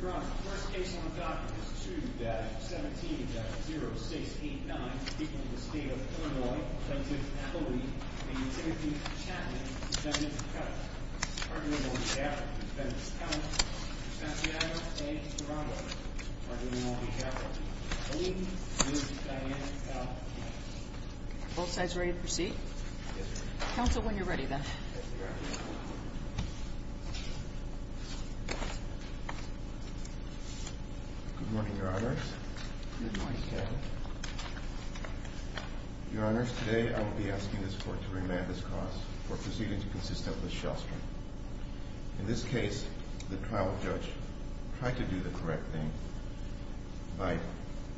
Your Honor, the first case on the docket is 2-17-0689, speaking of the State of Illinois, defendant, Chloe, v. Timothy Chatman, defendant's cousin. Arguable in behalf of the defendant's counsel, Ms. Santiago, and Mr. Romwell. Arguable on behalf of Chloe, Ms. Diane, and Mr. Romwell. Are both sides ready to proceed? Yes, Your Honor. Counsel, when you're ready, then. Yes, Your Honor. Good morning, Your Honors. Good morning, Mr. Chatman. Your Honors, today I will be asking this court to remand this cause for proceeding to consistent with Shelstrom. In this case, the trial judge tried to do the correct thing by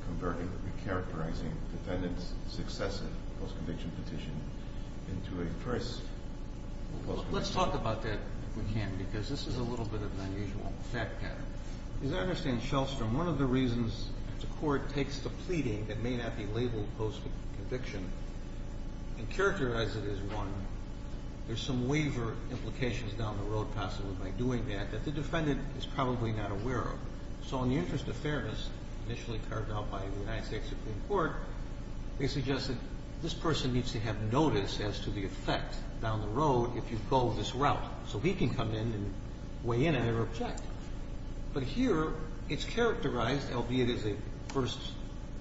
converting the recharacterizing defendant's successive post-conviction petition into a first post-conviction petition. Let's talk about that if we can, because this is a little bit of an unusual fact pattern. As I understand Shelstrom, one of the reasons the court takes the pleading that may not be labeled post-conviction and characterizes it as one, there's some waiver implications down the road, possibly, by doing that, that the defendant is probably not aware of. So in the interest of fairness, initially carved out by the United States Supreme Court, they suggested this person needs to have notice as to the effect down the road if you go this route. So he can come in and weigh in on their object. But here, it's characterized, albeit it is a first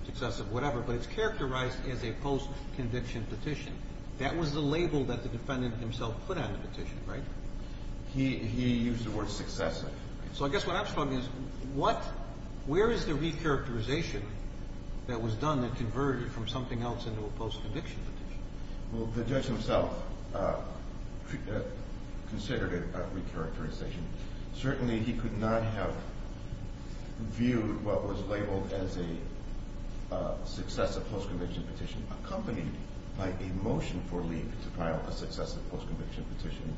successive whatever, but it's characterized as a post-conviction petition. That was the label that the defendant himself put on the petition, right? He used the word successive. So I guess what I'm struggling is, where is the recharacterization that was done that converted from something else into a post-conviction petition? Well, the judge himself considered a recharacterization. Certainly, he could not have viewed what was labeled as a successive post-conviction petition accompanied by a motion for leave to file a successive post-conviction petition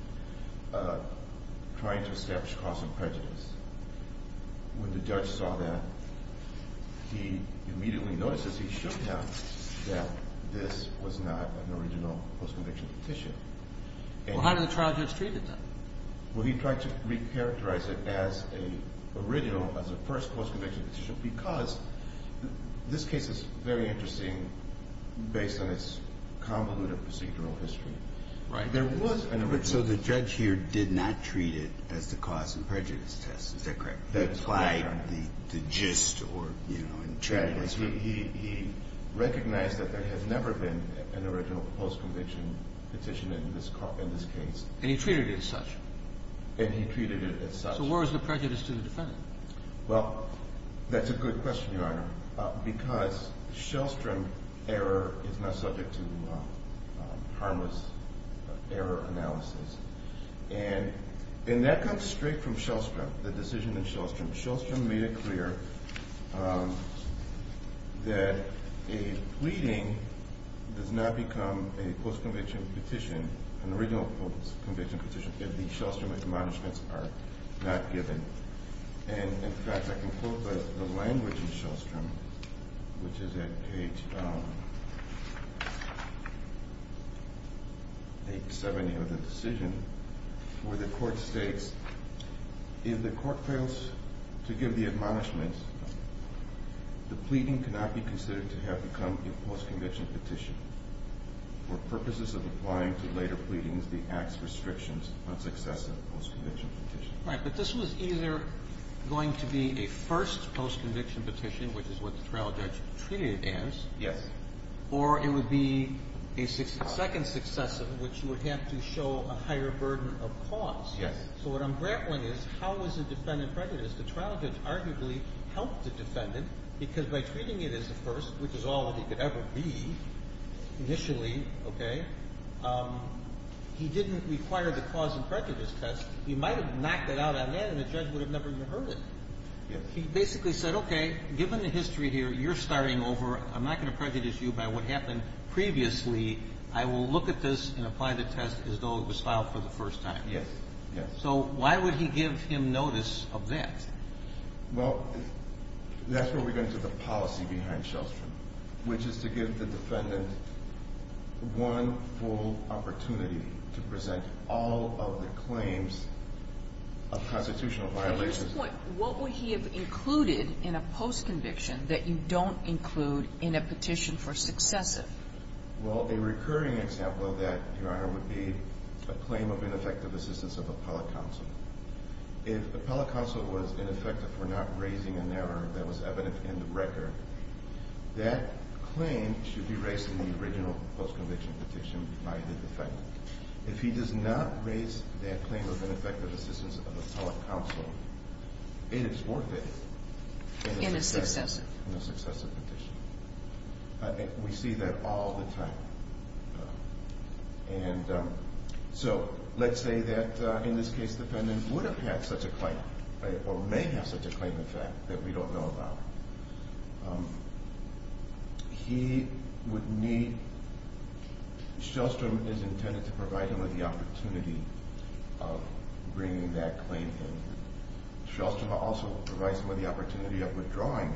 trying to establish cause of prejudice. When the judge saw that, he immediately notices he should have that this was not an original post-conviction petition. Well, how did the trial judge treat it then? Well, he tried to recharacterize it as a first post-conviction petition because this case is very interesting based on its convoluted procedural history. Right. There was an original. So the judge here did not treat it as the cause of prejudice test. Is that correct? That's why the gist or, you know, the tragedy. He recognized that there had never been an original post-conviction petition in this case. And he treated it as such. And he treated it as such. So where was the prejudice to the defendant? Well, that's a good question, Your Honor, because Shellstrom error is not subject to harmless error analysis. And that comes straight from Shellstrom. The decision in Shellstrom. Shellstrom made it clear that a pleading does not become a post-conviction petition, an original post-conviction petition, if the Shellstrom admonishments are not given. And in fact, I can quote the language in Shellstrom, which is at page 70 of the decision, where the court states, if the court fails to give the admonishments, the pleading cannot be considered to have become a post-conviction petition. For purposes of applying to later pleadings, the act's restrictions on successive post-conviction petitions. Right. But this was either going to be a first post-conviction petition, which is what the trial judge treated it as. Yes. Or it would be a second successive, which would have to show a higher burden of cause. Yes. So what I'm grappling is, how is the defendant prejudiced? The trial judge arguably helped the defendant, because by treating it as a first, which is all that he could ever be initially, okay, he didn't require the cause and prejudice test. He might have knocked it out on them, and the judge would have never even heard it. Yes. He basically said, okay, given the history here, you're starting over. I'm not going to prejudice you by what happened previously. I will look at this and apply the test as though it was filed for the first time. Yes. So why would he give him notice of that? Well, that's where we go into the policy behind Shellstrom, which is to give the defendant one full opportunity to present all of the claims of constitutional violations. At this point, what would he have included in a post-conviction that you don't include in a petition for successive? Well, a recurring example of that, Your Honor, would be a claim of ineffective assistance of appellate counsel. If appellate counsel was ineffective for not raising an error that was evident in the record, that claim should be raised in the original post-conviction petition by the defendant. If he does not raise that claim of ineffective assistance of appellate counsel, it is forfeited. In a successive. In a successive petition. We see that all the time. So let's say that, in this case, the defendant would have had such a claim or may have such a claim, in fact, that we don't know about. Shellstrom is intended to provide him with the opportunity of bringing that claim in. Shellstrom also provides him with the opportunity of withdrawing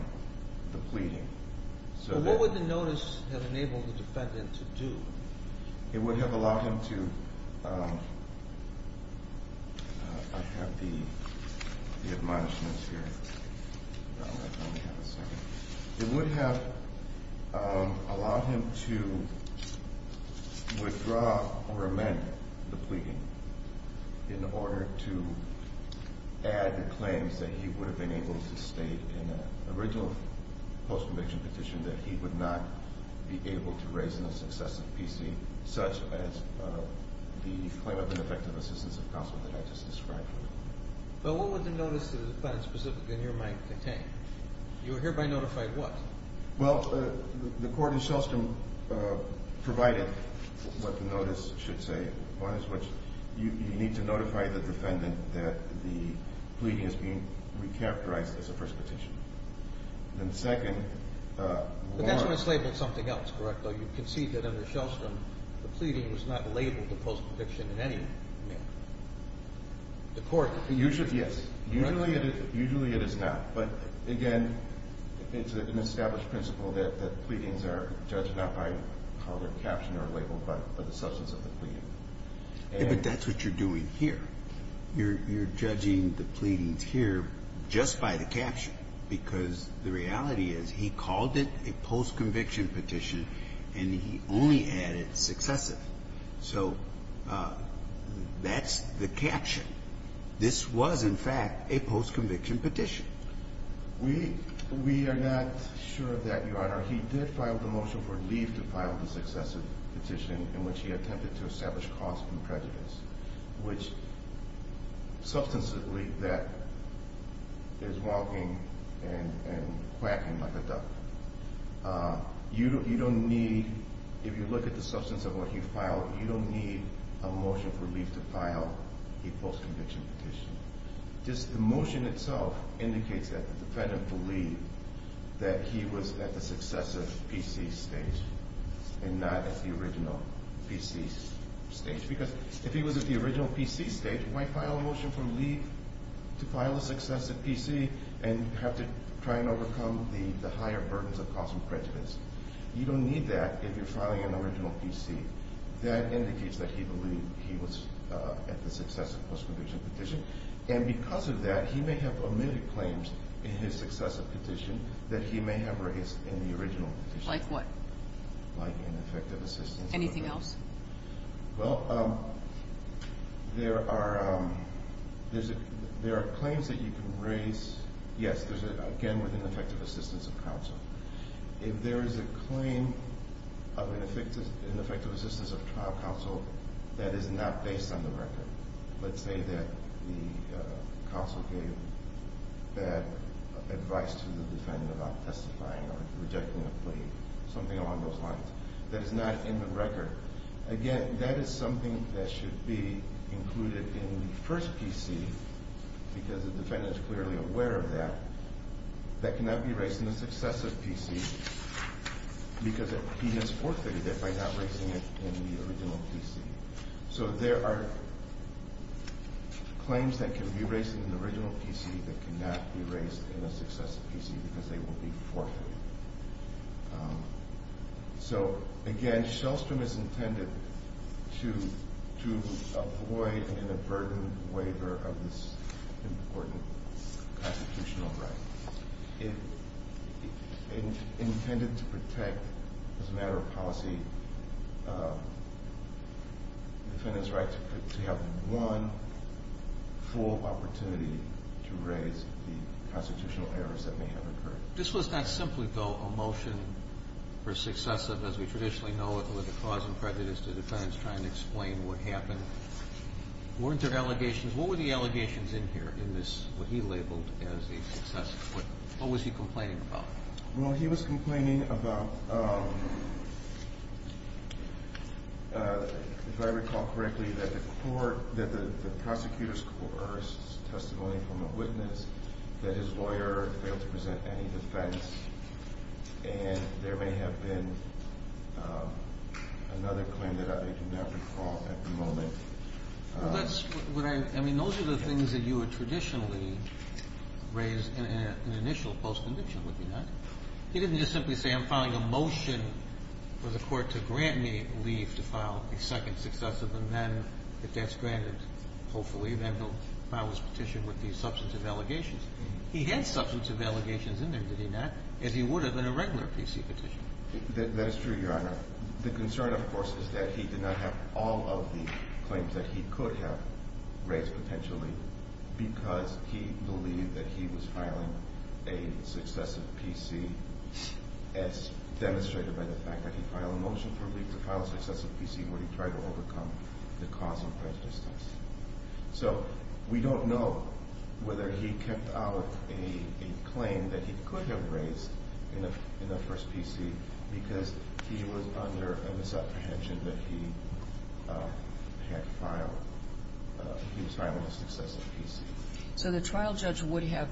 the pleading. So what would the notice have enabled the defendant to do? It would have allowed him to... I have the admonishments here. It would have allowed him to withdraw or amend the pleading in order to add the claims that he would have been able to state in an original post-conviction petition that he would not be able to raise in a successive PC, such as the claim of ineffective assistance of counsel that I just described. But what would the notice to the defendant specifically in your mind contain? You would hereby notify what? Well, the court in Shellstrom provided what the notice should say. You need to notify the defendant that the pleading is being re-characterized as a first petition. Then second... But that's when it's labeled something else, correct? You can see that under Shellstrom, the pleading was not labeled a post-conviction in any manner. The court... Usually, yes. Usually it is not. But again, it's an established principle that pleadings are judged not by how they're captioned or labeled, but by the substance of the pleading. But that's what you're doing here. You're judging the pleadings here just by the caption, because the reality is he called it a post-conviction petition and he only added successive. So that's the caption. This was, in fact, a post-conviction petition. We are not sure of that, Your Honor. He did file the motion for leave to file the successive petition in which he attempted to establish cause and prejudice, which, substantively, that is walking and quacking like a duck. You don't need, if you look at the substance of what he filed, you don't need a motion for leave to file a post-conviction petition. Just the motion itself indicates that the defendant believed that he was at the successive PC stage and not at the original PC stage. Because if he was at the original PC stage, why file a motion for leave to file a successive PC and have to try and overcome the higher burdens of cause and prejudice? You don't need that if you're filing an original PC. That indicates that he believed he was at the successive post-conviction petition. And because of that, he may have omitted claims in his successive petition that he may have raised in the original petition. Like what? Like ineffective assistance. Anything else? Well, there are claims that you can raise. Yes, again, with ineffective assistance of counsel. If there is a claim of ineffective assistance of trial counsel that is not based on the record, let's say that the counsel gave bad advice to the defendant about testifying or rejecting a plea, something along those lines, that is not in the record, again, that is something that should be included in the first PC because the defendant is clearly aware of that, that cannot be raised in the successive PC because he has forfeited it by not raising it in the original PC. So there are claims that can be raised in the original PC that cannot be raised in a successive PC because they will be forfeited. So, again, Shellstrom is intended to avoid an inadvertent waiver of this important constitutional right. It is intended to protect, as a matter of policy, the defendant's right to have one full opportunity to raise the constitutional errors that may have occurred. This was not simply, though, a motion for successive, as we traditionally know it, with the cause and prejudice of the defendants trying to explain what happened. Weren't there allegations? What were the allegations in here in this, what he labeled as a successive? What was he complaining about? Well, he was complaining about, if I recall correctly, that the prosecutor's coerced testimony from a witness that his lawyer failed to present any defense, and there may have been another claim that I do not recall at the moment. I mean, those are the things that you would traditionally raise in an initial post-condition, would you not? He didn't just simply say, I'm filing a motion for the court to grant me leave to file a second successive, and then, if that's granted, hopefully, the defendant will file his petition with these substantive allegations. He had substantive allegations in there, did he not, as he would have in a regular PC petition. That is true, Your Honor. The concern, of course, is that he did not have all of the claims that he could have raised, potentially, because he believed that he was filing a successive PC as demonstrated by the fact that he filed a motion for leave to file a successive PC when he tried to overcome the cause and prejudice test. So we don't know whether he kept out a claim that he could have raised in the first PC because he was under a misapprehension that he was filing a successive PC. So the trial judge would have,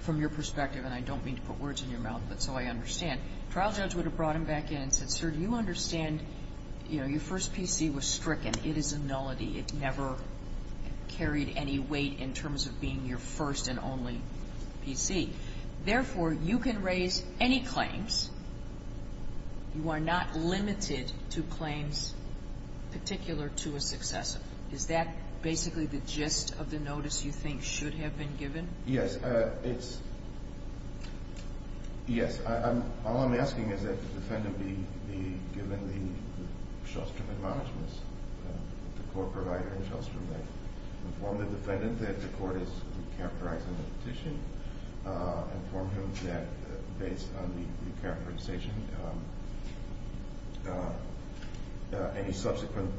from your perspective, and I don't mean to put words in your mouth, but so I understand, the trial judge would have brought him back in and said, Sir, do you understand your first PC was stricken? It is a nullity. It never carried any weight in terms of being your first and only PC. Therefore, you can raise any claims. You are not limited to claims particular to a successive. Is that basically the gist of the notice you think should have been given? Yes. Yes. All I'm asking is that the defendant be given the short-term admonishments, the court provider and the short-term bank. Inform the defendant that the court is recharacterizing the petition. Inform him that based on the recharacterization, any subsequent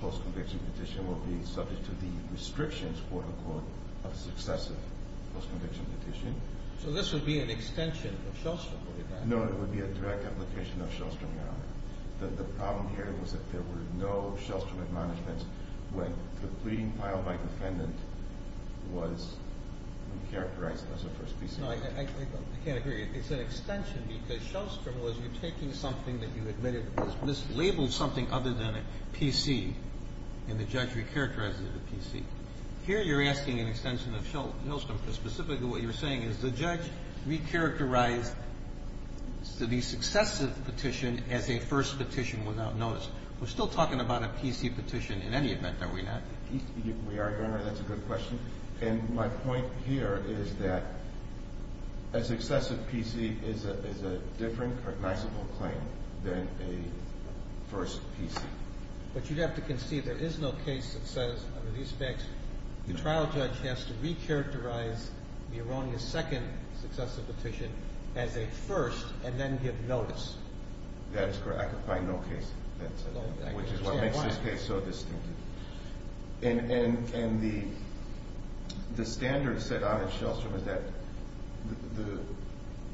post-conviction petition will be subject to the restrictions, quote, unquote, of successive post-conviction petition. So this would be an extension of Shellstrom, would it not? No, it would be a direct application of Shellstrom, Your Honor. The problem here was that there were no Shellstrom admonishments when the pleading filed by defendant was recharacterized as a first PC. No, I can't agree. It's an extension because Shellstrom was retaking something that you admitted was mislabeled, something other than a PC, and the judge recharacterized it as a PC. Here you're asking an extension of Shellstrom because specifically what you're saying is the judge recharacterized the successive petition as a first petition without notice. We're still talking about a PC petition in any event, are we not? We are, Your Honor. That's a good question. And my point here is that a successive PC is a different cognizable claim than a first PC. But you'd have to concede there is no case that says under these facts the trial judge has to recharacterize the erroneous second successive petition as a first and then give notice. That is correct. I can find no case that says that, which is what makes this case so distinctive. And the standard set out at Shellstrom is that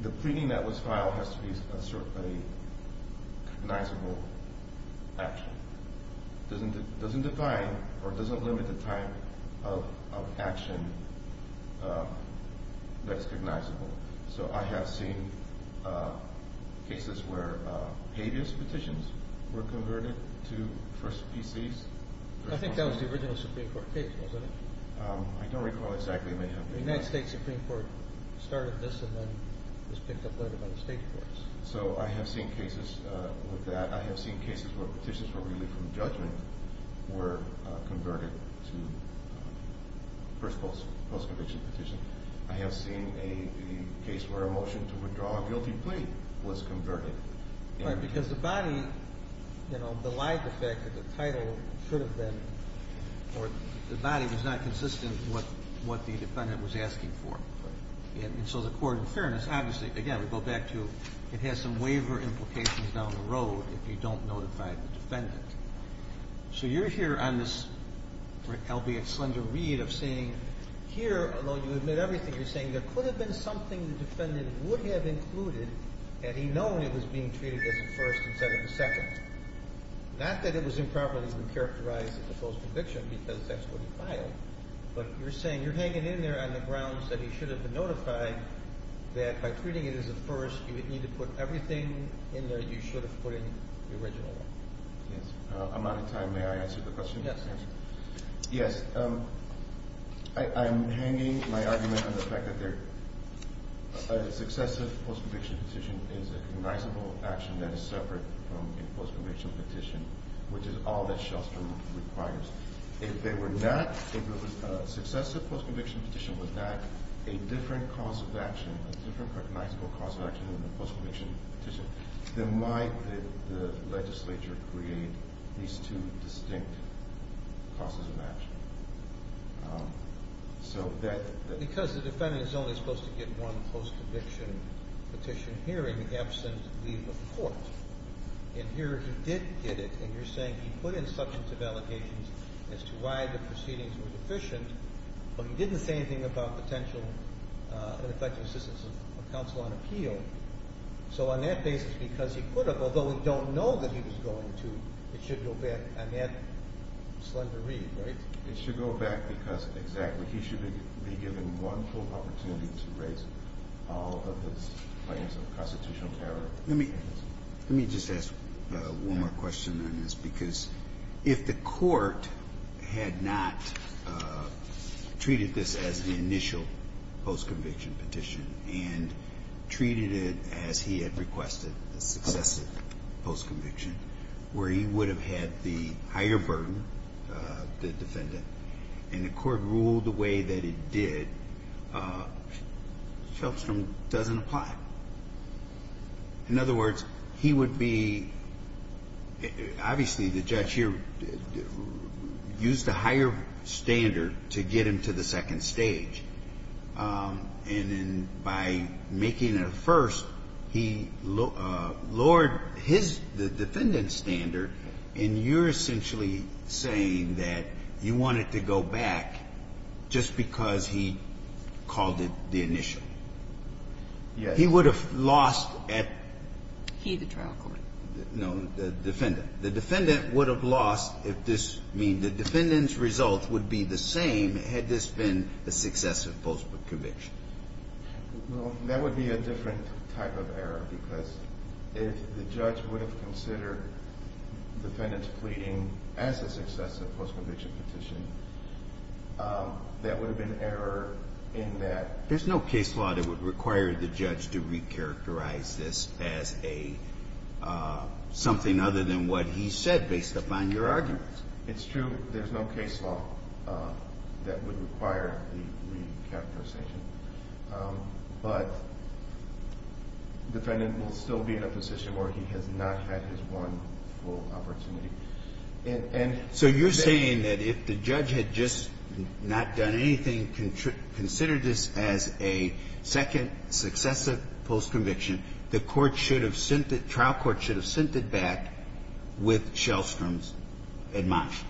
the pleading that was filed has to be a cognizable action. It doesn't define or it doesn't limit the time of action that is cognizable. So I have seen cases where habeas petitions were converted to first PCs. I think that was the original Supreme Court case, wasn't it? I don't recall exactly. The United States Supreme Court started this and then was picked up later by the state courts. So I have seen cases with that. I have seen cases where petitions were really from judgment were converted to first post-conviction petitions. I have seen a case where a motion to withdraw a guilty plea was converted. Right, because the body, you know, the life effect of the title should have been or the body was not consistent with what the defendant was asking for. And so the court in fairness, obviously, again, we go back to it has some waiver implications down the road if you don't notify the defendant. So you're here on this albeit slender read of saying here, although you admit everything, you're saying there could have been something the defendant would have included had he known it was being treated as a first instead of a second. Not that it was improperly characterized as a post-conviction because that's what he filed, but you're saying you're hanging in there on the grounds that he should have been notified that by treating it as a first you would need to put everything in there you should have put in the original. Yes, I'm out of time. May I answer the question? Yes. Yes, I'm hanging my argument on the fact that a successive post-conviction petition is a recognizable action that is separate from a post-conviction petition, which is all that Shellstrom requires. If they were not, if a successive post-conviction petition was not a different cause of action, a different recognizable cause of action than a post-conviction petition, then why did the legislature create these two distinct causes of action? Because the defendant is only supposed to get one post-conviction petition hearing absent leave of the court. And here he did get it, and you're saying he put in substantive allocations as to why the proceedings were deficient, but he didn't say anything about potential ineffective assistance of counsel on appeal. So on that basis, because he could have, although we don't know that he was going to, it should go back on that slender read, right? It should go back because exactly. He should be given one full opportunity to raise all of the claims of constitutional power. Let me just ask one more question on this, because if the court had not treated this as the initial post-conviction petition and treated it as he had requested a successive post-conviction, where he would have had the higher burden, the defendant, and the court ruled the way that it did, Shellstrom doesn't apply. In other words, he would be, obviously the judge here used a higher standard to get him to the second stage. And then by making it a first, he lowered his, the defendant's standard, and you're essentially saying that you want it to go back just because he called it the initial. Yes. He would have lost at. He, the trial court. No, the defendant. The defendant would have lost if this, I mean, the defendant's result would be the same had this been a successive post-conviction. Well, that would be a different type of error, because if the judge would have considered defendant's pleading as a successive post-conviction petition, that would have been error in that. But there's no case law that would require the judge to recharacterize this as a, something other than what he said based upon your argument. It's true. There's no case law that would require the recharacterization. But the defendant will still be in a position where he has not had his one full opportunity. And so you're saying that if the judge had just not done anything, considered this as a second successive post-conviction, the court should have sent it, trial court should have sent it back with Shellstrom's ad motus.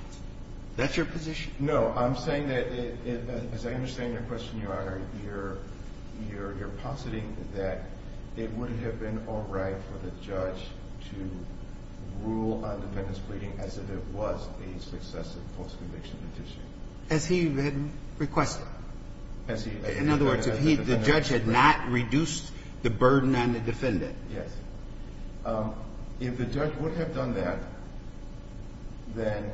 That's your position? No. I'm saying that, as I understand your question, Your Honor, you're, you're, you're right for the judge to rule on defendant's pleading as if it was a successive post-conviction petition. As he had requested. As he had requested. In other words, if he, the judge had not reduced the burden on the defendant. Yes. If the judge would have done that, then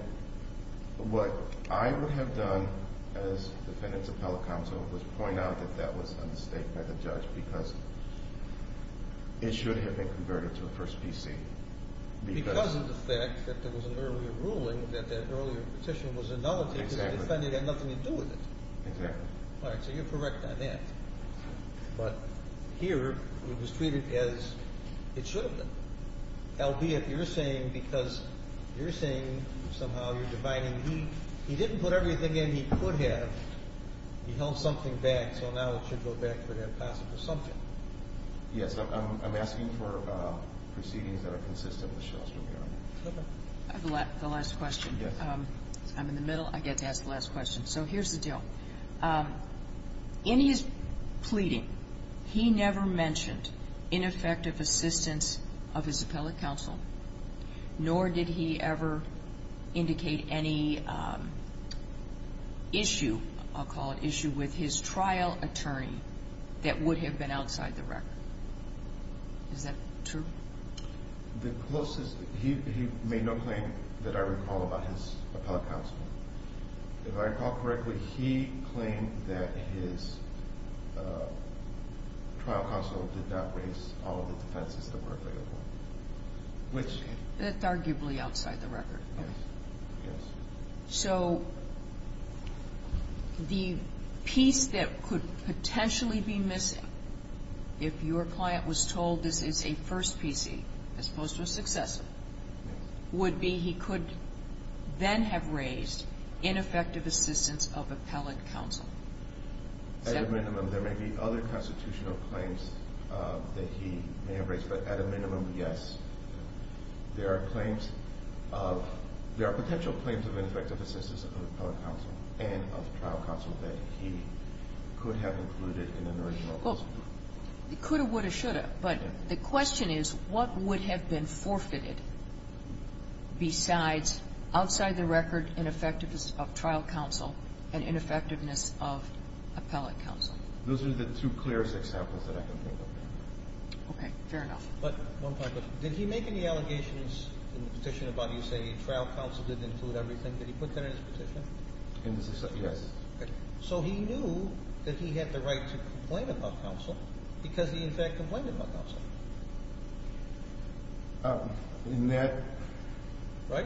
what I would have done as defendant's It should have been converted to a first PC. Because of the fact that there was an earlier ruling that that earlier petition was annulled because the defendant had nothing to do with it. Exactly. All right. So you're correct on that. But here it was treated as it should have been. Albeit, you're saying because you're saying somehow you're dividing. He, he didn't put everything in he could have. He held something back. So now it should go back to that possible subject. Yes. I'm asking for proceedings that are consistent with the Shell Street Amendment. Okay. The last question. Yes. I'm in the middle. I get to ask the last question. So here's the deal. In his pleading, he never mentioned ineffective assistance of his appellate counsel. Nor did he ever indicate any issue, I'll call it issue, with his trial attorney that would have been outside the record. Is that true? The closest, he made no claim that I recall about his appellate counsel. If I recall correctly, he claimed that his trial counsel did not raise all of the defenses that were available. That's arguably outside the record. Yes. So the piece that could potentially be missing, if your client was told this is a first PC as opposed to a successor, would be he could then have raised ineffective assistance of appellate counsel. At a minimum, there may be other constitutional claims that he may have raised. But at a minimum, yes. There are claims of – there are potential claims of ineffective assistance of appellate counsel and of trial counsel that he could have included in an original case. Well, he could have, would have, should have. But the question is what would have been forfeited besides outside the record ineffectiveness of trial counsel and ineffectiveness of appellate counsel? Those are the two clearest examples that I can think of. Okay. Fair enough. But one final question. Did he make any allegations in the petition about, you say, trial counsel didn't include everything? Did he put that in his petition? Yes. Okay. So he knew that he had the right to complain about counsel because he, in fact, complained about counsel. In that – Right?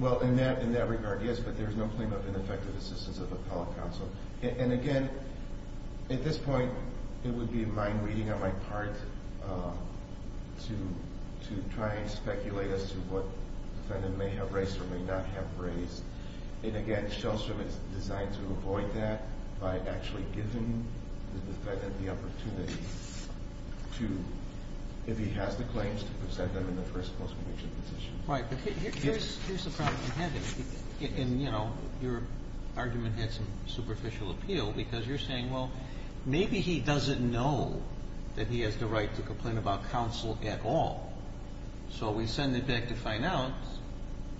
Well, in that regard, yes, but there is no claim of ineffective assistance of appellate counsel. And, again, at this point, it would be my reading on my part to try and speculate as to what defendant may have raised or may not have raised. And, again, Shellstrom is designed to avoid that by actually giving the defendant the opportunity to, if he has the claims, to present them in the first and most premature position. Right. But here's the problem. And, you know, your argument had some superficial appeal because you're saying, well, maybe he doesn't know that he has the right to complain about counsel at all. So we send it back to find out,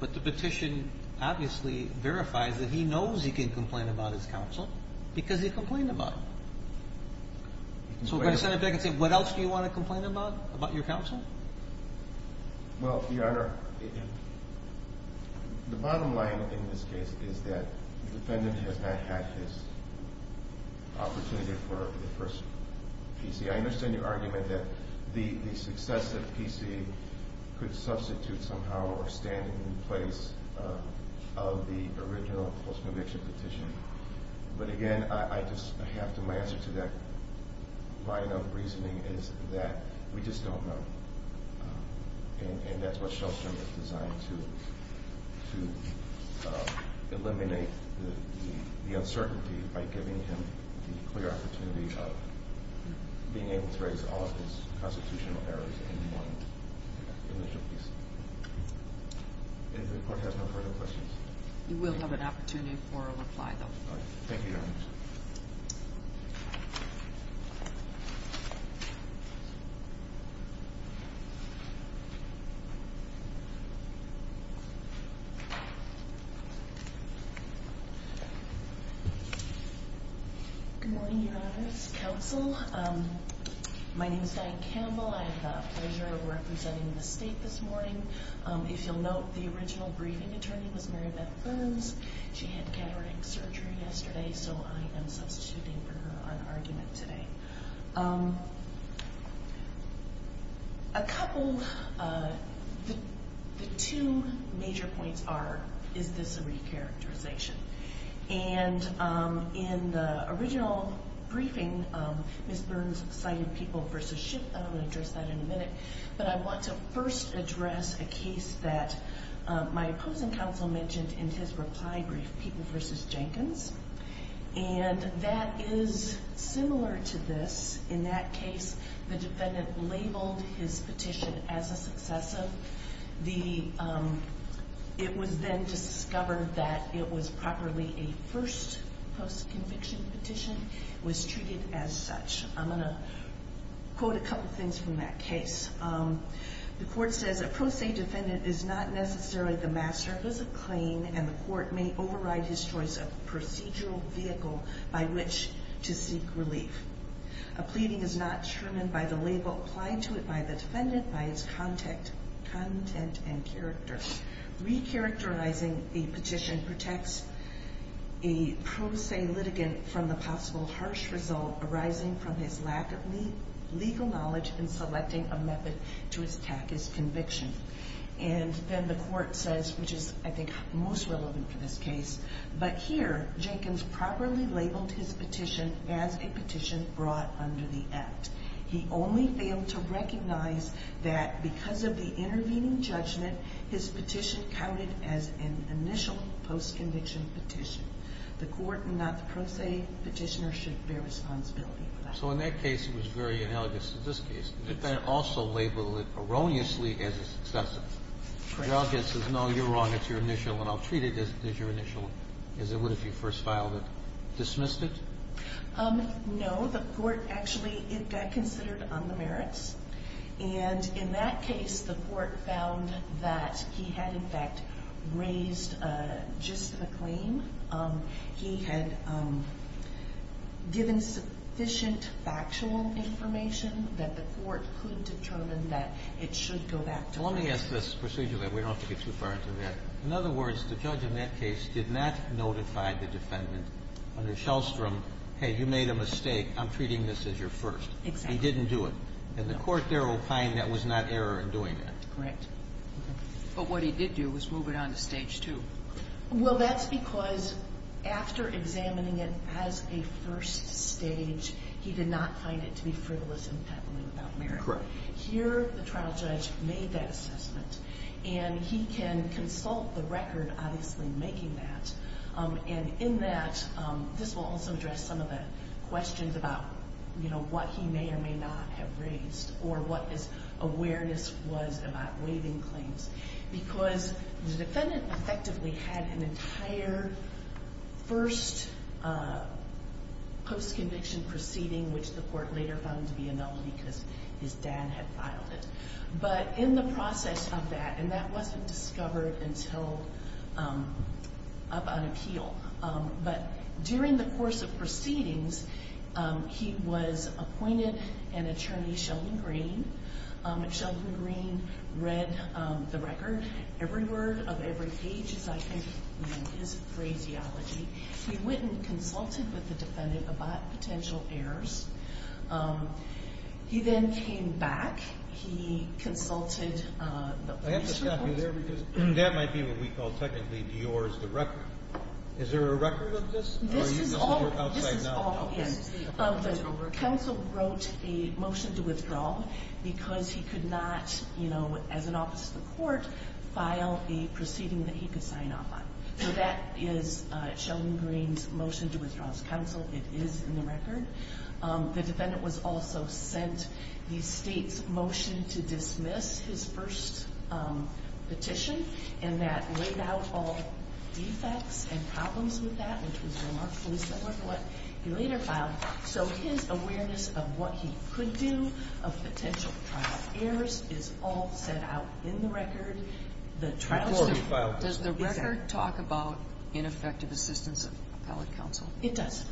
but the petition obviously verifies that he knows he can complain about his counsel because he complained about it. So we're going to send it back and say, what else do you want to complain about, about your counsel? Well, Your Honor, the bottom line in this case is that the defendant has not had his opportunity for the first PC. I understand your argument that the successive PC could substitute somehow or stand in the place of the original post-conviction petition. But, again, I just have to answer to that line of reasoning is that we just don't know. And that's what Shelstrom is designed to, to eliminate the uncertainty by giving him the clear opportunity of being able to raise all of his constitutional errors in one initial PC. And the court has no further questions. You will have an opportunity for a reply, though. Thank you, Your Honor. Thank you. Good morning, Your Honors. Counsel, my name is Diane Campbell. I have the pleasure of representing the state this morning. If you'll note, the original briefing attorney was Mary Beth Burns. She had cataract surgery yesterday, so I am substituting for her on argument today. A couple, the two major points are, is this a re-characterization? And in the original briefing, Ms. Burns cited People v. Schiff. I'm going to address that in a minute. But I want to first address a case that my opposing counsel mentioned in his reply brief, People v. Jenkins. And that is similar to this. In that case, the defendant labeled his petition as a successive. It was then discovered that it was properly a first post-conviction petition. It was treated as such. I'm going to quote a couple things from that case. The court says, A pro se defendant is not necessarily the master of his claim, and the court may override his choice of procedural vehicle by which to seek relief. A pleading is not determined by the label applied to it by the defendant by its content and character. Re-characterizing a petition protects a pro se litigant from the possible harsh result arising from his lack of legal knowledge in selecting a method to attack his conviction. And then the court says, which is, I think, most relevant for this case, but here Jenkins properly labeled his petition as a petition brought under the Act. He only failed to recognize that because of the intervening judgment, his petition counted as an initial post-conviction petition. The court and not the pro se petitioner should bear responsibility for that. So in that case, it was very analogous to this case. The defendant also labeled it erroneously as a successor. The audience says, no, you're wrong. It's your initial, and I'll treat it as your initial, as it would if you first filed it. Dismissed it? No. The court actually got considered on the merits, and in that case the court found that he had, in fact, raised just a claim. He had given sufficient factual information that the court could determine that it should go back to court. Let me ask this procedurally. We don't have to get too far into that. In other words, the judge in that case did not notify the defendant under Shellstrom, hey, you made a mistake. I'm treating this as your first. Exactly. He didn't do it. And the court there opined that was not error in doing that. Correct. But what he did do was move it on to Stage 2. Well, that's because after examining it as a first stage, he did not find it to be frivolous and peddling about merit. Correct. Here, the trial judge made that assessment, and he can consult the record obviously making that. And in that, this will also address some of the questions about, you know, what he may or may not have raised or what his awareness was about waiving claims because the defendant effectively had an entire first post-conviction proceeding, which the court later found to be a null because his dad had filed it. But in the process of that, and that wasn't discovered until up on appeal, but during the course of proceedings, he was appointed an attorney, Sheldon Green. Sheldon Green read the record. Every word of every page is, I think, his phraseology. He went and consulted with the defendant about potential errors. He then came back. He consulted the police report. I have to stop you there because that might be what we call technically yours, the record. Is there a record of this? This is all in. The counsel wrote a motion to withdraw because he could not, you know, as an office of the court, file a proceeding that he could sign off on. So that is Sheldon Green's motion to withdraw as counsel. It is in the record. The defendant was also sent the state's motion to dismiss his first petition and that laid out all defects and problems with that, which was remarkably similar to what he later filed. So his awareness of what he could do, of potential trial errors, is all set out in the record. Does the record talk about ineffective assistance of appellate counsel? It does.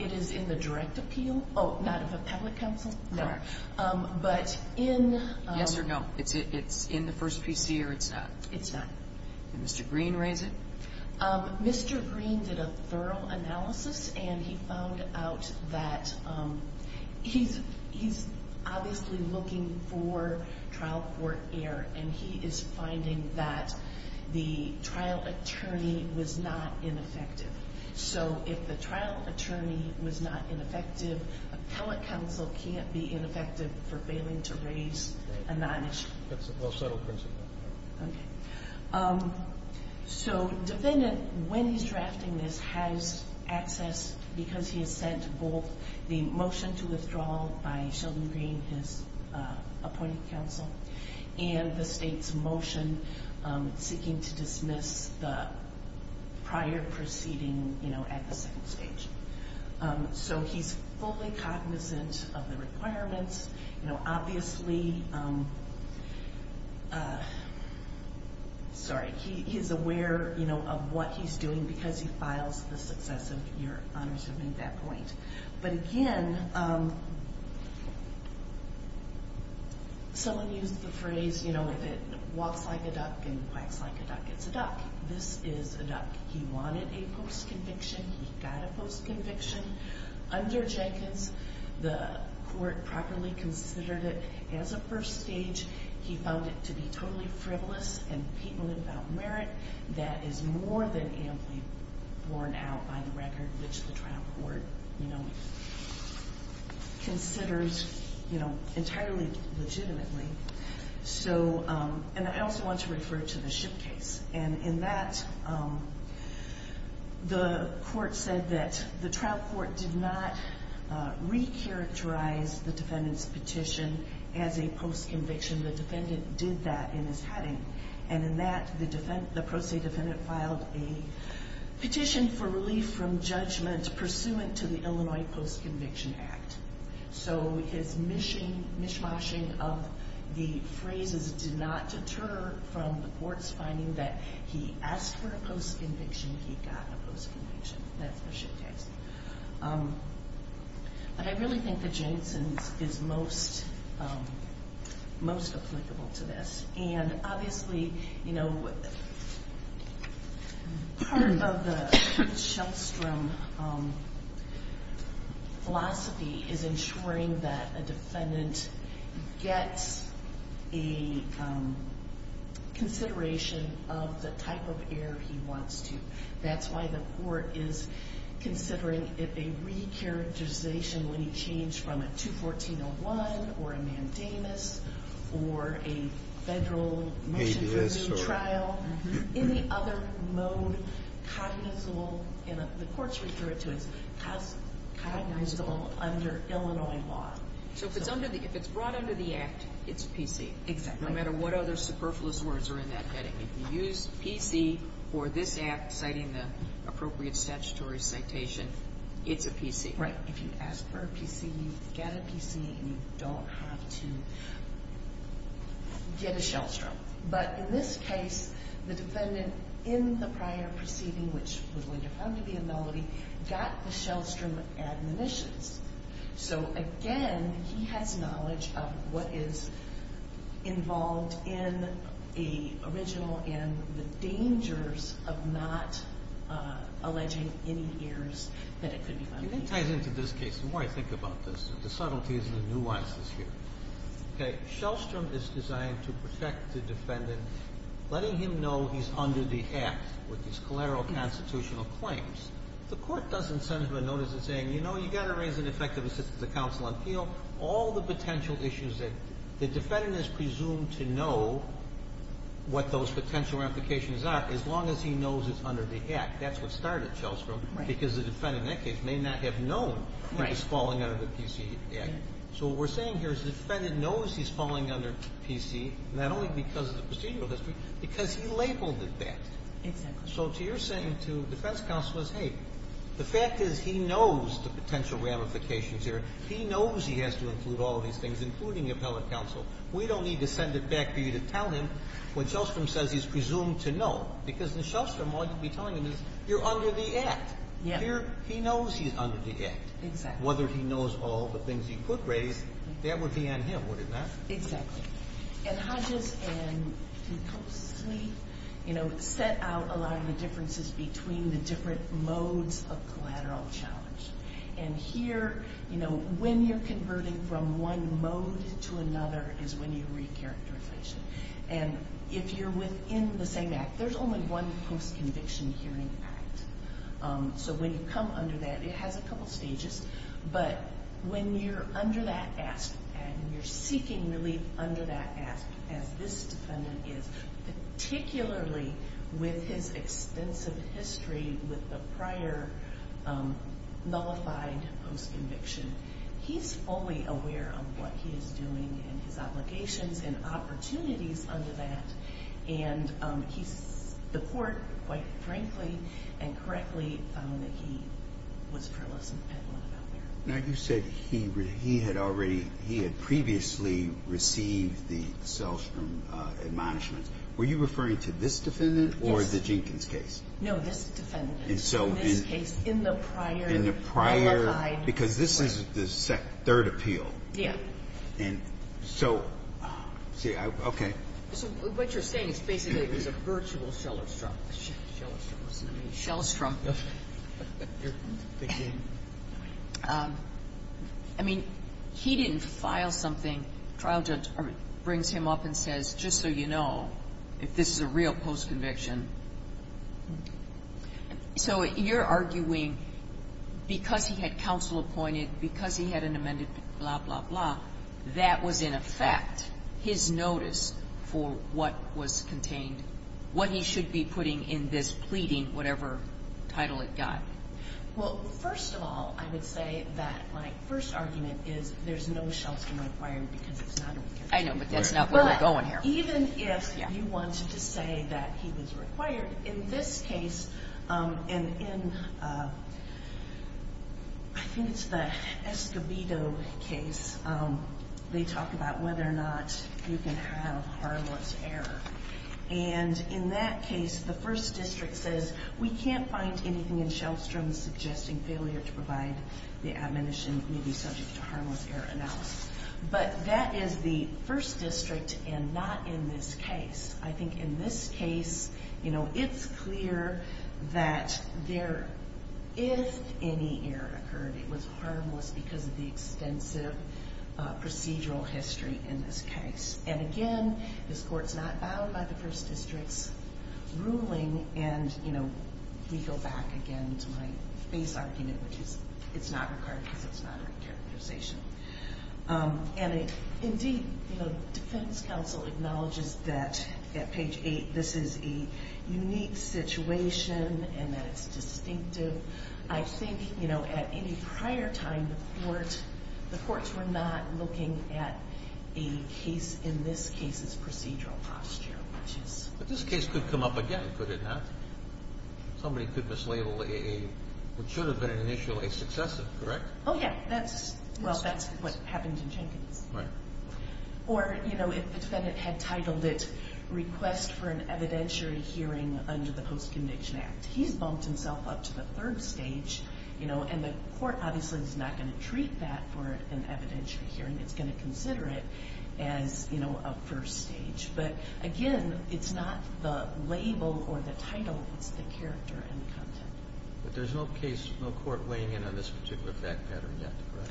It is in the direct appeal. Not of appellate counsel? No. Yes or no? It's in the first PC or it's not? It's not. Did Mr. Green raise it? Mr. Green did a thorough analysis and he found out that he's obviously looking for trial court error, and he is finding that the trial attorney was not ineffective. So if the trial attorney was not ineffective, appellate counsel can't be ineffective for failing to raise a non-issue. That's a well-settled principle. Okay. So defendant, when he's drafting this, has access because he has sent both the motion to withdraw by Sheldon Green, his appointed counsel, and the state's motion seeking to dismiss the prior proceeding at the second stage. So he's fully cognizant of the requirements. Obviously, sorry, he's aware of what he's doing because he files the success of your honor to make that point. But again, someone used the phrase, you know, if it walks like a duck and quacks like a duck, it's a duck. This is a duck. He wanted a post-conviction. He got a post-conviction. Under Jenkins, the court properly considered it as a first stage. He found it to be totally frivolous and people without merit. That is more than amply borne out by the record, which the trial court, you know, considers, you know, entirely legitimately. So, and I also want to refer to the ship case. And in that, the court said that the trial court did not recharacterize the defendant's petition as a post-conviction. The defendant did that in his heading. And in that, the pro se defendant filed a petition for relief from judgment pursuant to the Illinois Post-Conviction Act. So his mishmashing of the phrases did not deter from the court's finding that he asked for a post-conviction. He got a post-conviction. That's the ship case. But I really think that Jenkins is most applicable to this. And obviously, you know, part of the Shellstrom philosophy is ensuring that a defendant gets a consideration of the type of error he wants to. That's why the court is considering it a recharacterization when he changed from a 214-01 or a mandamus or a federal motion for re-trial. In the other mode, cognizable, and the courts refer it to as cognizable under Illinois law. So if it's under the, if it's brought under the act, it's PC. Exactly. No matter what other superfluous words are in that heading. If you use PC for this act, citing the appropriate statutory citation, it's a PC. Right. If you ask for a PC, you get a PC, and you don't have to get a Shellstrom. But in this case, the defendant in the prior proceeding, which was later found to be a melody, got the Shellstrom admonitions. So, again, he has knowledge of what is involved in the original and the dangers of not alleging any errors that it could be found to be. It ties into this case. The more I think about this, the subtleties and the nuances here. Okay. Shellstrom is designed to protect the defendant, letting him know he's under the act with his collateral constitutional claims. The Court doesn't send him a notice saying, you know, you got to raise an effective assistance to counsel on appeal, all the potential issues that the defendant is presumed to know what those potential implications are, as long as he knows it's under the act. That's what started Shellstrom. Right. Because the defendant in that case may not have known he was falling under the PC act. So what we're saying here is the defendant knows he's falling under PC, not only because of the procedural history, because he labeled it that. Exactly. So what you're saying to defense counsel is, hey, the fact is he knows the potential ramifications here. He knows he has to include all of these things, including appellate counsel. We don't need to send it back for you to tell him what Shellstrom says he's presumed to know, because in Shellstrom, all you'd be telling him is you're under the act. Yeah. Here, he knows he's under the act. Exactly. Whether he knows all the things he could raise, that would be on him, would it not? Exactly. And Hodges and DeCosley, you know, set out a lot of the differences between the different modes of collateral challenge. And here, you know, when you're converting from one mode to another is when you re-characterize it. And if you're within the same act, there's only one post-conviction hearing act. So when you come under that, it has a couple stages. But when you're under that act and you're seeking relief under that act, as this defendant is, particularly with his extensive history with the prior nullified post-conviction, he's fully aware of what he is doing and his obligations and opportunities under that. And the court, quite frankly and correctly, found that he was frivolous and peddling about that. Now, you said he had previously received the Shellstrom admonishments. Were you referring to this defendant or the Jenkins case? No, this defendant. In this case, in the prior nullified. Because this is the third appeal. Yeah. And so, okay. So what you're saying is basically it was a virtual Shellstrom. Shellstrom. Yes. I mean, he didn't file something. The trial judge brings him up and says, just so you know, if this is a real post-conviction. So you're arguing because he had counsel appointed, because he had an amended blah, blah, blah, that was in effect his notice for what was contained, what he should be putting in this pleading, whatever title it got. Well, first of all, I would say that my first argument is there's no Shellstrom required because it's not required. I know, but that's not where we're going here. Even if you wanted to say that he was required, in this case, and in, I think it's the Escobedo case, they talk about whether or not you can have harmless error. And in that case, the first district says, we can't find anything in Shellstrom suggesting failure to provide the admonition may be subject to harmless error analysis. But that is the first district and not in this case. I think in this case, you know, it's clear that there, if any error occurred, it was harmless because of the extensive procedural history in this case. And again, this court's not bound by the first district's ruling and, you know, we go back again to my base argument, which is it's not required because it's not a characterization. And indeed, you know, defense counsel acknowledges that at page 8, this is a unique situation and that it's distinctive. I think, you know, at any prior time, the courts were not looking at a case in this case's procedural posture, which is... But this case could come up again, could it not? Somebody could mislabel a, what should have been an issue, a successive, correct? Oh, yeah. Well, that's what happened in Jenkins. Right. Or, you know, if the defendant had titled it request for an evidentiary hearing under the Post-Conviction Act. He's bumped himself up to the third stage, you know, and the court obviously is not going to treat that for an evidentiary hearing. It's going to consider it as, you know, a first stage. But again, it's not the label or the title. It's the character and the content. But there's no case, no court weighing in on this particular fact pattern yet, correct?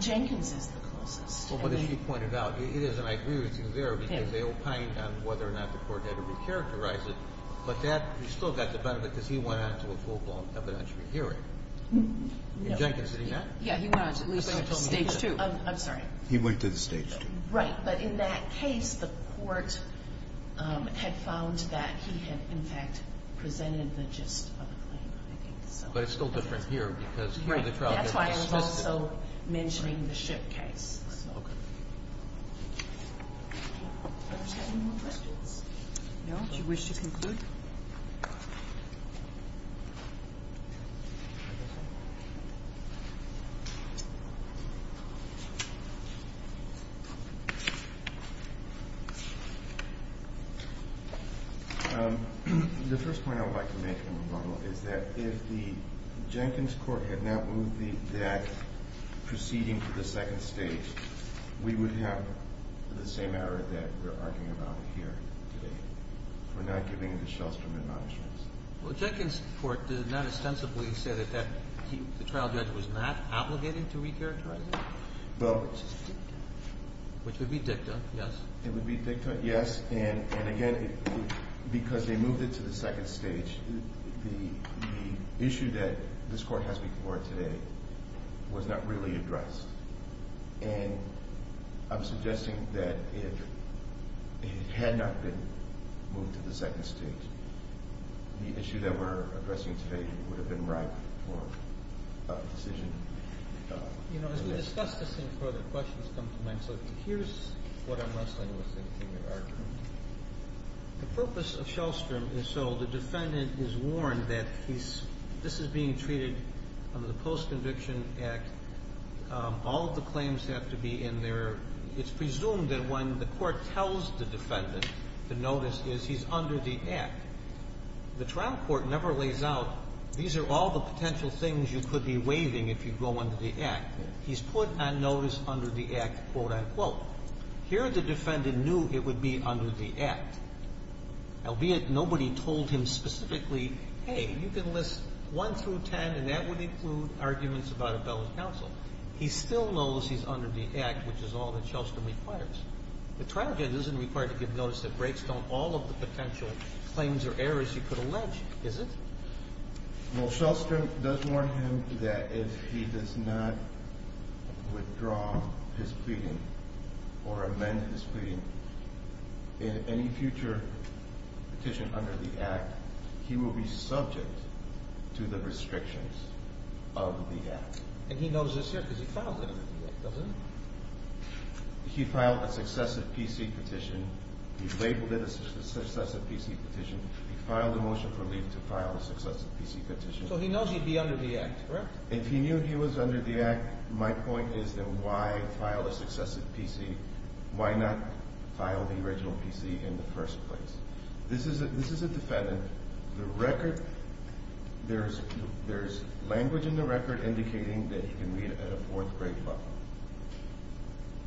Jenkins is the closest. Well, but as you pointed out, it is, and I agree with you there, because they opine on whether or not the court had to recharacterize it. But that, you still got the benefit because he went on to a full-blown evidentiary hearing. In Jenkins, did he not? Yeah, he went on to at least stage 2. I'm sorry. He went to the stage 2. Right. But in that case, the court had found that he had, in fact, presented the gist of the claim. I think so. But it's still different here because here the trial has been specific. Right. That's why I was also mentioning the ship case. Okay. No. Do you wish to conclude? The first point I would like to make in rebuttal is that if the Jenkins court had not moved that proceeding to the second stage, we would have the same error that we're arguing about here today for not giving the Shellstrom admonishments. Well, Jenkins court did not ostensibly say that the trial judge was not obligated to recharacterize it. Which is dicta. Which would be dicta, yes. It would be dicta, yes. And again, because they moved it to the second stage, the issue that this court has before it today was not really addressed. And I'm suggesting that if it had not been moved to the second stage, the issue that we're addressing today would have been right for a decision. You know, as we discuss this and further questions come to mind, so here's what I'm wrestling with in the argument. The purpose of Shellstrom is so the defendant is warned that this is being treated under the post-conviction act. All of the claims have to be in there. It's presumed that when the court tells the defendant the notice is he's under the act. The trial court never lays out these are all the potential things you could be waiving if you go under the act. He's put on notice under the act, quote, unquote. Here the defendant knew it would be under the act. Albeit nobody told him specifically, hey, you can list one through ten and that would include arguments about a bill of counsel. He still knows he's under the act, which is all that Shellstrom requires. The trial judge isn't required to give notice that breaks down all of the potential claims or errors he could allege, is it? Well, Shellstrom does warn him that if he does not withdraw his pleading or amend his pleading in any future petition under the act, he will be subject to the restrictions of the act. And he knows this here because he filed it under the act, doesn't he? He filed a successive PC petition. He labeled it a successive PC petition. He filed a motion for leave to file a successive PC petition. So he knows he'd be under the act, correct? If he knew he was under the act, my point is that why file a successive PC? Why not file the original PC in the first place? This is a defendant. The record, there's language in the record indicating that you can read it at a fourth grade level.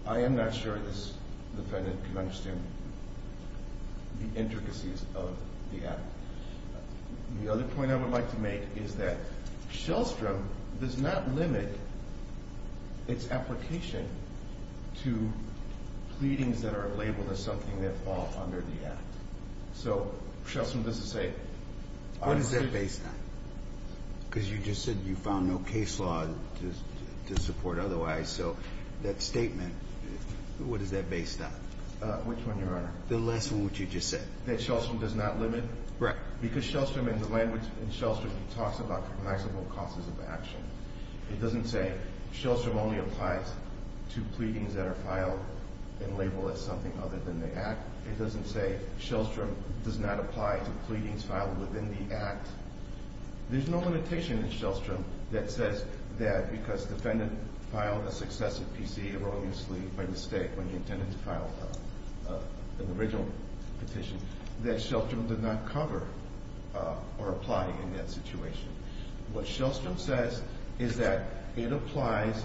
I am not sure this defendant can understand the intricacies of the act. The other point I would like to make is that Shellstrom does not limit its application to pleadings that are labeled as something that fall under the act. So Shellstrom doesn't say... What is that based on? Because you just said you found no case law to support otherwise. So that statement, what is that based on? Which one, Your Honor? The last one which you just said. That Shellstrom does not limit? Correct. Because Shellstrom, in the language in Shellstrom, he talks about maximal causes of action. It doesn't say Shellstrom only applies to pleadings that are filed and labeled as something other than the act. It doesn't say Shellstrom does not apply to pleadings filed within the act. There's no limitation in Shellstrom that says that because defendant filed a successive PC erroneously by mistake when he intended to file an original petition that Shellstrom did not cover or apply in that situation. What Shellstrom says is that it applies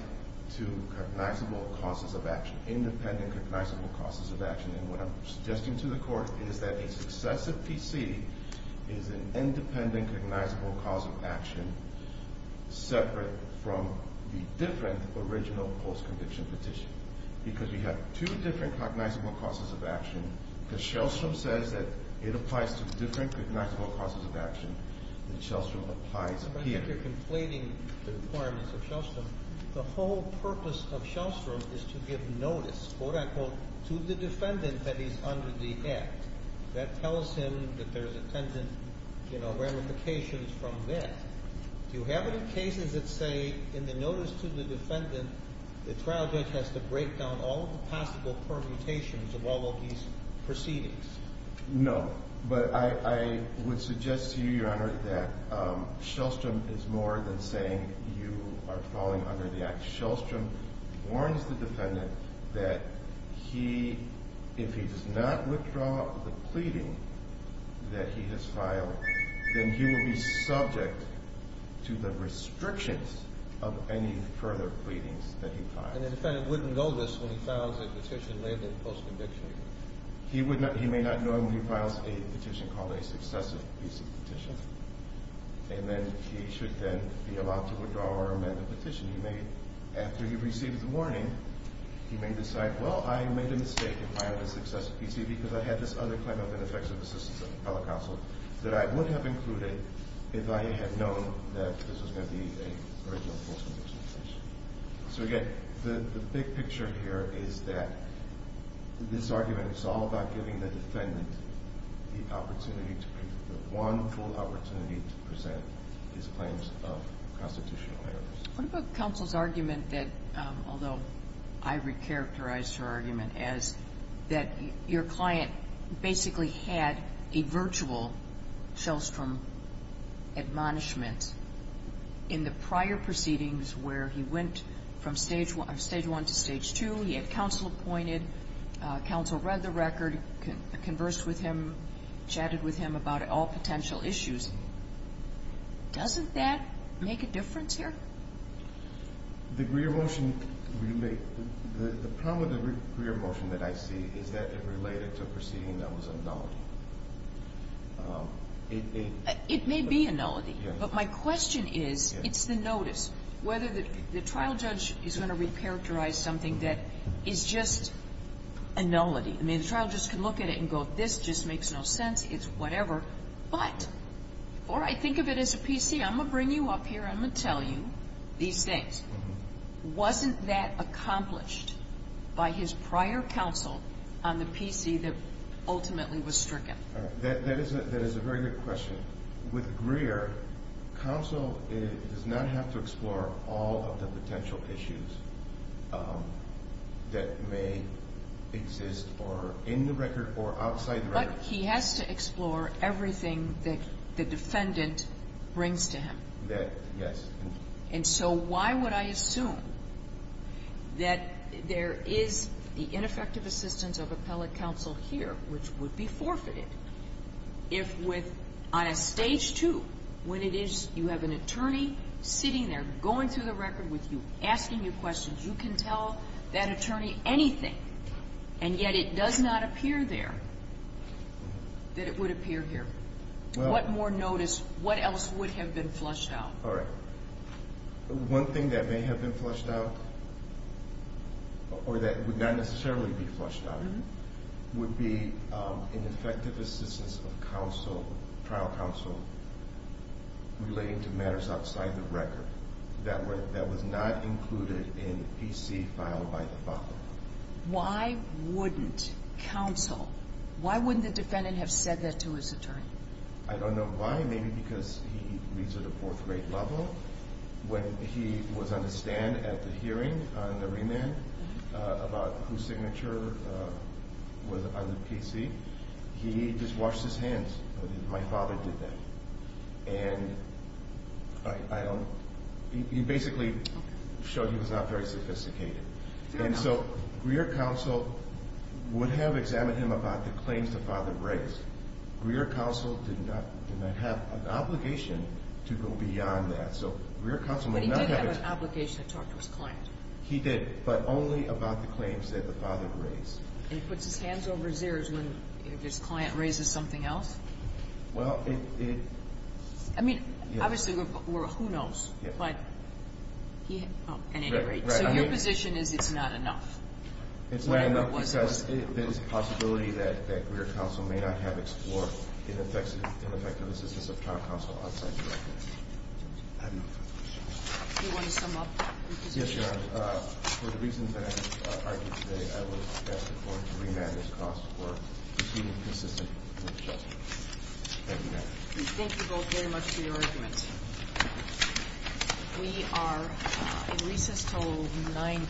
to recognizable causes of action, independent recognizable causes of action. And what I'm suggesting to the Court is that a successive PC is an independent recognizable cause of action separate from the different original post-conviction petition. Because we have two different recognizable causes of action. Because Shellstrom says that it applies to different recognizable causes of action. And Shellstrom applies here. I think you're conflating the requirements of Shellstrom. The whole purpose of Shellstrom is to give notice, quote-unquote, to the defendant that he's under the act. That tells him that there's intended ramifications from that. Do you have any cases that say in the notice to the defendant, the trial judge has to break down all the possible permutations of all of these proceedings? No. But I would suggest to you, Your Honor, that Shellstrom is more than saying you are falling under the act. Shellstrom warns the defendant that if he does not withdraw the pleading that he has filed, then he will be subject to the restrictions of any further pleadings that he files. And the defendant wouldn't know this when he files a petition labeled post-conviction? He may not know it when he files a petition called a successive PC petition. And then he should then be allowed to withdraw or amend the petition. He may, after he receives the warning, he may decide, well, I made a mistake in filing a successive PC because I had this other claim of ineffective assistance of appellate counsel that I would have included if I had known that this was going to be an original post-conviction petition. So again, the big picture here is that this argument is all about giving the plaintiff an opportunity to present his claims of constitutional errors. What about counsel's argument that, although I recharacterized her argument, as that your client basically had a virtual Shellstrom admonishment in the prior proceedings where he went from Stage 1 to Stage 2, he had counsel appointed, counsel read the record, conversed with him, chatted with him about all potential issues. Doesn't that make a difference here? The Greer motion, the problem with the Greer motion that I see is that it related to a proceeding that was a nullity. It may be a nullity. But my question is, it's the notice, whether the trial judge is going to recharacterize something that is just a nullity. I mean, the trial judge can look at it and go, this just makes no sense. It's whatever. But before I think of it as a PC, I'm going to bring you up here. I'm going to tell you these things. Wasn't that accomplished by his prior counsel on the PC that ultimately was stricken? That is a very good question. With Greer, counsel does not have to explore all of the potential issues that may exist in the record or outside the record. But he has to explore everything that the defendant brings to him. Yes. And so why would I assume that there is the ineffective assistance of appellate counsel here, which would be forfeited, if on a stage two, when you have an attorney sitting there going through the record with you, asking you questions, you can tell that attorney anything, and yet it does not appear there that it would appear here. What more notice? What else would have been flushed out? All right. One thing that may have been flushed out, or that would not necessarily be flushed out, would be ineffective assistance of trial counsel relating to matters outside the record that was not included in the PC filed by the father. Why wouldn't counsel, why wouldn't the defendant have said that to his attorney? I don't know why. Maybe because he reads at a fourth-rate level. When he was on the stand at the hearing on the remand about whose signature was on the PC, he just washed his hands. My father did that. And he basically showed he was not very sophisticated. And so Greer counsel would have examined him about the claims the father brings. Greer counsel did not have an obligation to go beyond that. But he did have an obligation to talk to his client. He did, but only about the claims that the father raised. And he puts his hands over his ears when his client raises something else? Well, it... I mean, obviously, who knows? But at any rate, so your position is it's not enough? It's not enough because there's a possibility that Greer counsel may not have explored ineffective assistance of trial counsel outside the record. I have no further questions. Do you want to sum up your position? Yes, Your Honor. For the reasons that I have argued today, I will ask the court to remand this cause for proceeding consistent with the judgment. Thank you, Your Honor. We are in recess until 9 p.m.